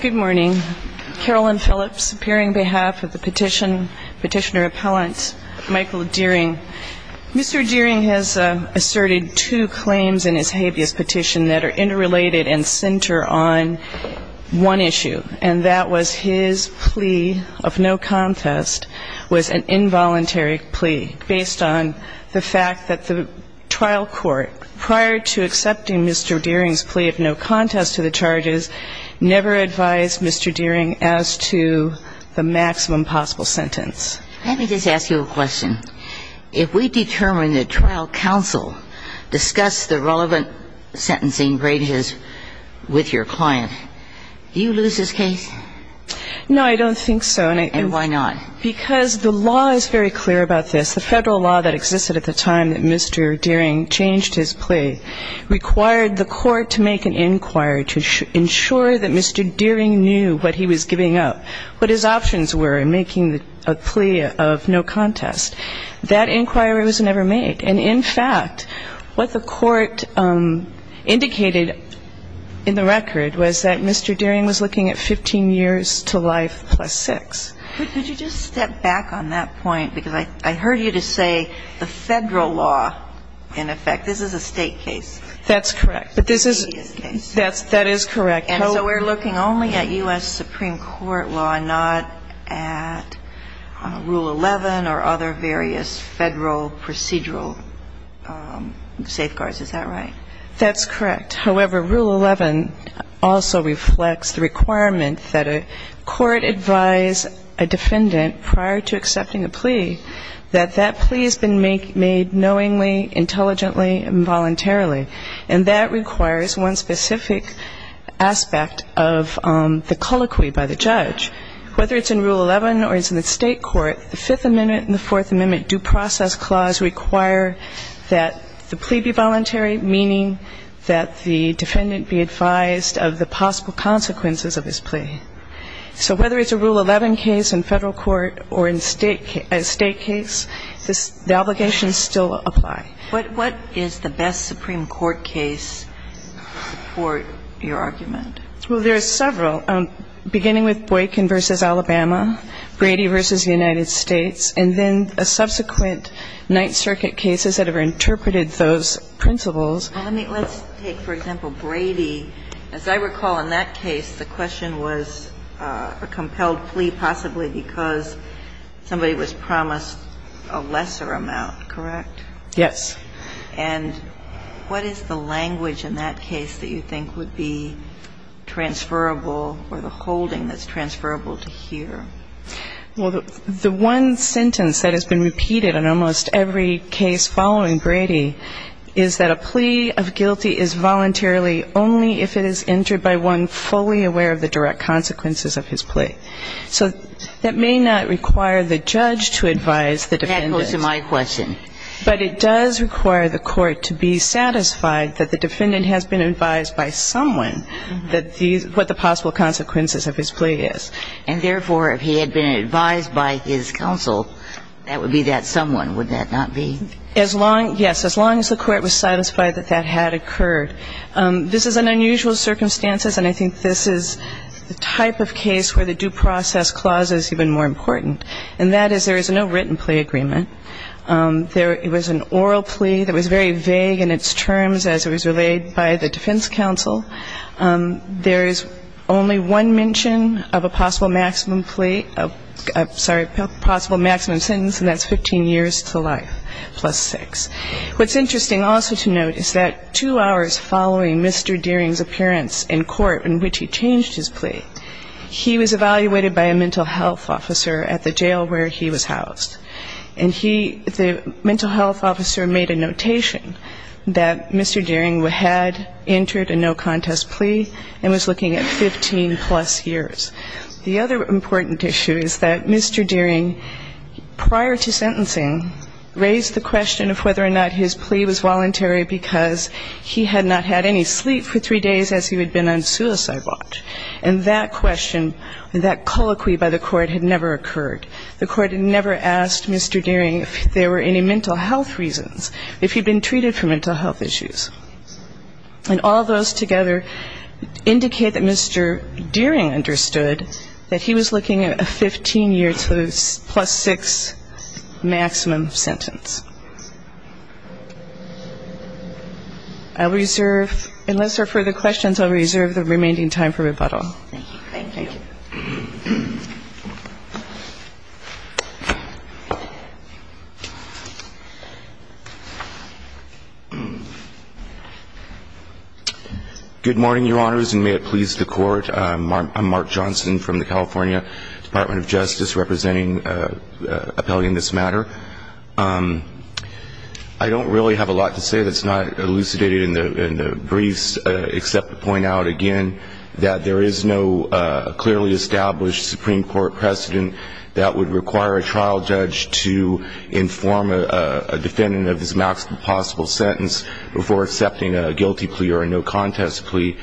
Good morning. Carolyn Phillips, appearing on behalf of the petitioner-appellant Michael Dearing. Mr. Dearing has asserted two claims in his habeas petition that are interrelated and center on one issue, and that was his plea of no contest was an involuntary plea based on the fact that the trial court, prior to accepting Mr. Dearing's plea of no contest to the charges, never advised Mr. Dearing as to the maximum possible sentence. Let me just ask you a question. If we determine that trial counsel discussed the relevant sentencing graduates with your client, do you lose this case? No, I don't think so. And why not? Because the law is very clear about this. The Federal law that existed at the time that Mr. Dearing changed his plea required the court to make an inquiry to ensure that Mr. Dearing knew what he was giving up, what his options were in making a plea of no contest. That inquiry was never made. And, in fact, what the court indicated in the record was that Mr. Dearing was looking at 15 years to life plus 6. Could you just step back on that point? Because I heard you to say the Federal law, in effect. This is a State case. That's correct. But this is a State case. That is correct. And so we're looking only at U.S. Supreme Court law and not at Rule 11 or other various Federal procedural safeguards. Is that right? That's correct. However, Rule 11 also reflects the requirement that a court advise a defendant prior to accepting a plea that that plea has been made knowingly, intelligently, and voluntarily. And that requires one specific aspect of the colloquy by the judge. Whether it's in Rule 11 or it's in the State court, the Fifth Amendment and the Fourth Amendment due process clause require that the plea be voluntary, meaning that the defendant be advised of the possible consequences of his plea. So whether it's a Rule 11 case in Federal court or in State case, the obligations still apply. What is the best Supreme Court case to support your argument? Well, there are several, beginning with Boykin v. Alabama, Brady v. United States, and then subsequent Ninth Circuit cases that have interpreted those principles. Let's take, for example, Brady. As I recall in that case, the question was a compelled plea possibly because somebody was promised a lesser amount, correct? Yes. And what is the language in that case that you think would be transferable or the holding that's transferable to here? Well, the one sentence that has been repeated in almost every case following Brady is that a plea of guilty is voluntarily only if it is entered by one fully aware of the direct consequences of his plea. So that may not require the judge to advise the defendant. That goes to my question. But it does require the court to be satisfied that the defendant has been advised by someone that these – what the possible consequences of his plea is. And, therefore, if he had been advised by his counsel, that would be that someone, would that not be? As long – yes. As long as the court was satisfied that that had occurred. This is an unusual circumstance, and I think this is the type of case where the due process clause is even more important, and that is there is no written plea agreement. There – it was an oral plea that was very vague in its terms as it was relayed by the defense counsel. There is only one mention of a possible maximum plea – sorry, possible maximum sentence, and that's 15 years to life plus six. What's interesting also to note is that two hours following Mr. Deering's appearance in court in which he changed his plea, he was evaluated by a mental health officer at the jail where he was housed. And he – the mental health officer made a notation that Mr. Deering had entered a no-contract plea and was looking at 15 plus years. The other important issue is that Mr. Deering, prior to sentencing, raised the question of whether or not his plea was voluntary because he had not had any sleep for three days as he had been on suicide watch. And that question, that colloquy by the court, had never occurred. The court had never asked Mr. Deering if there were any mental health reasons, if he'd been treated for mental health issues. And all those together indicate that Mr. Deering understood that he was looking at a 15 years plus six maximum sentence. I'll reserve – unless there are further questions, I'll reserve the remaining time for rebuttal. Thank you. Thank you. Good morning, Your Honors, and may it please the Court. I'm Mark Johnson from the California Department of Justice representing an appellee in this matter. I don't really have a lot to say that's not elucidated in the briefs except to point out again Supreme Court precedent that would require a trial judge to inform a defendant of his maximum possible sentence before accepting a guilty plea or a no-contest plea.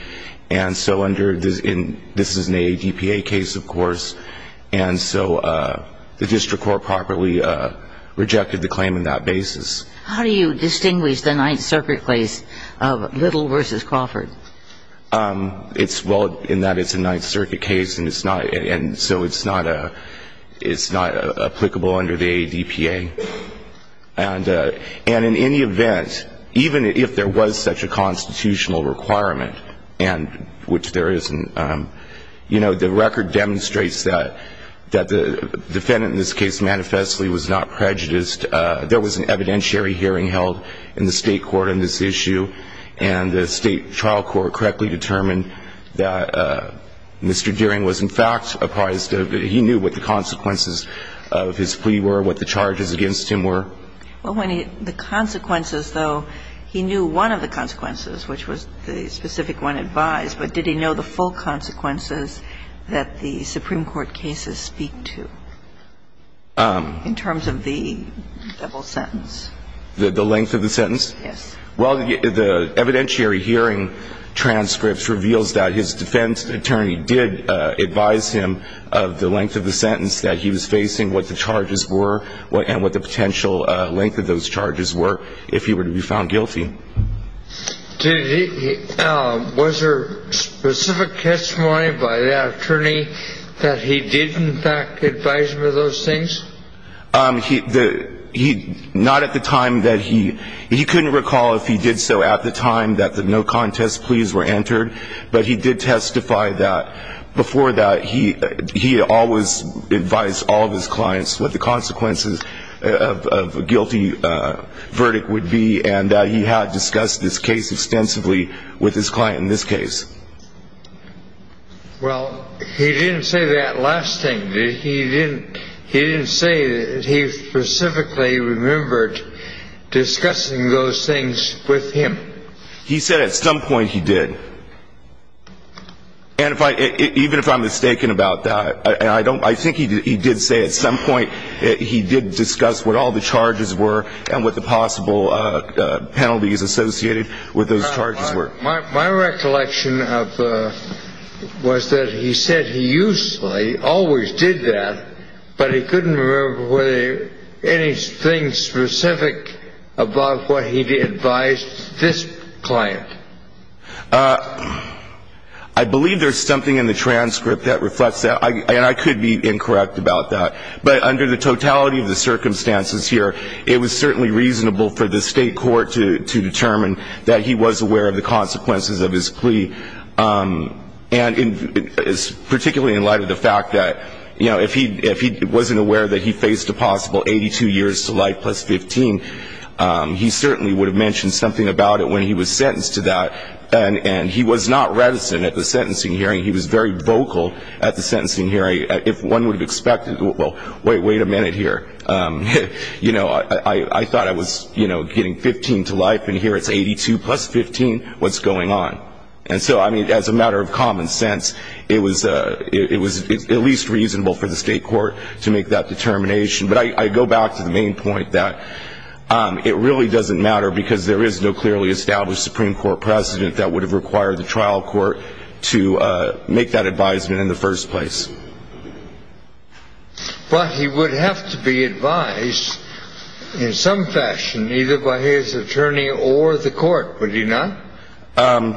And so under – this is an ADPA case, of course. And so the district court properly rejected the claim in that basis. How do you distinguish the Ninth Circuit case of Little v. Crawford? Well, in that it's a Ninth Circuit case, and so it's not applicable under the ADPA. And in any event, even if there was such a constitutional requirement, which there isn't, the record demonstrates that the defendant in this case manifestly was not prejudiced. There was an evidentiary hearing held in the state court on this issue, and the state trial court correctly determined that Mr. Deering was in fact apprised of – he knew what the consequences of his plea were, what the charges against him were. Well, when he – the consequences, though, he knew one of the consequences, which was the specific one advised, but did he know the full consequences that the Supreme Court cases speak to in terms of the double sentence? The length of the sentence? Yes. Well, the evidentiary hearing transcripts reveals that his defense attorney did advise him of the length of the sentence, that he was facing, what the charges were, and what the potential length of those charges were if he were to be found guilty. Did he – was there specific testimony by that attorney that he did in fact advise him of those things? He – not at the time that he – he couldn't recall if he did so at the time that the no contest pleas were entered, but he did testify that before that he always advised all of his clients what the consequences of a guilty verdict would be, and that he had discussed this case extensively with his client in this case. Well, he didn't say that last thing, did he? He didn't – he didn't say that he specifically remembered discussing those things with him. He said at some point he did, and if I – even if I'm mistaken about that, and I don't – I think he did say at some point he did discuss what all the charges were and what the possible penalties associated with those charges were. My recollection of – was that he said he usually – always did that, but he couldn't remember were there any things specific about what he advised this client. I believe there's something in the transcript that reflects that, and I could be incorrect about that, but under the totality of the circumstances here, it was certainly reasonable for the state court to determine that he was aware of the consequences of his plea, and particularly in light of the fact that, you know, if he wasn't aware that he faced a possible 82 years to life plus 15, he certainly would have mentioned something about it when he was sentenced to that, and he was not reticent at the sentencing hearing. He was very vocal at the sentencing hearing. If one would have expected – well, wait a minute here. You know, I thought I was, you know, getting 15 to life, and here it's 82 plus 15. What's going on? And so, I mean, as a matter of common sense, it was at least reasonable for the state court to make that determination. But I go back to the main point that it really doesn't matter because there is no clearly established Supreme Court precedent that would have required the trial court to make that advisement in the first place. But he would have to be advised in some fashion either by his attorney or the court, would he not?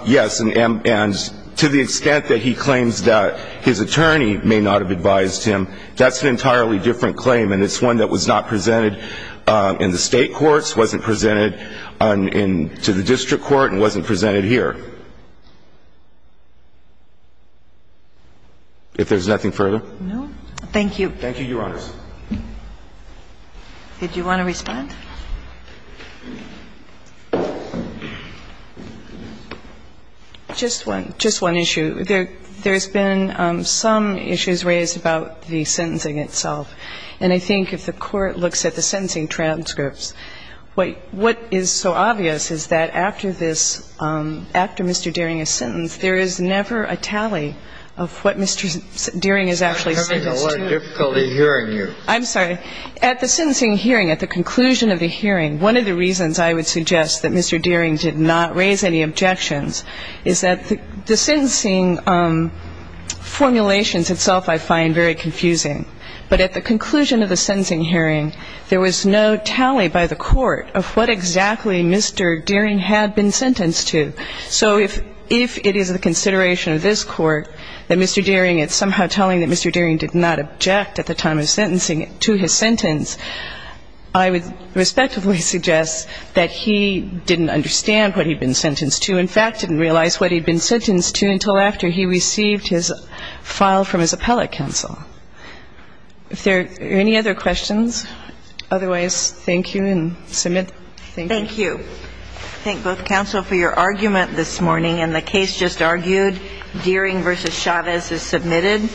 Yes, and to the extent that he claims that his attorney may not have advised him, that's an entirely different claim, and it's one that was not presented in the state courts, wasn't presented to the district court, and wasn't presented here. If there's nothing further? No. Thank you. Thank you, Your Honors. Did you want to respond? Just one issue. There's been some issues raised about the sentencing itself. And I think if the Court looks at the sentencing transcripts, what is so obvious is that after this, after Mr. Deering is sentenced, there is never a tally of what Mr. Deering is actually sentenced to. I'm having a lot of difficulty hearing you. I'm sorry. At the sentencing hearing, at the conclusion of the hearing, one of the reasons I would suggest that Mr. Deering did not raise any objections is that the sentencing formulations itself I find very confusing. But at the conclusion of the sentencing hearing, there was no tally by the Court of what exactly Mr. Deering had been sentenced to. So if it is the consideration of this Court that Mr. Deering is somehow telling that Mr. Deering did not object at the time of sentencing to his sentence, I would respectively suggest that he didn't understand what he'd been sentenced to, in fact, didn't realize what he'd been sentenced to until after he received his file from his appellate counsel. Are there any other questions? Otherwise, thank you, and submit. Thank you. Thank you. Thank both counsel for your argument this morning. And the case just argued, Deering v. Chavez is submitted.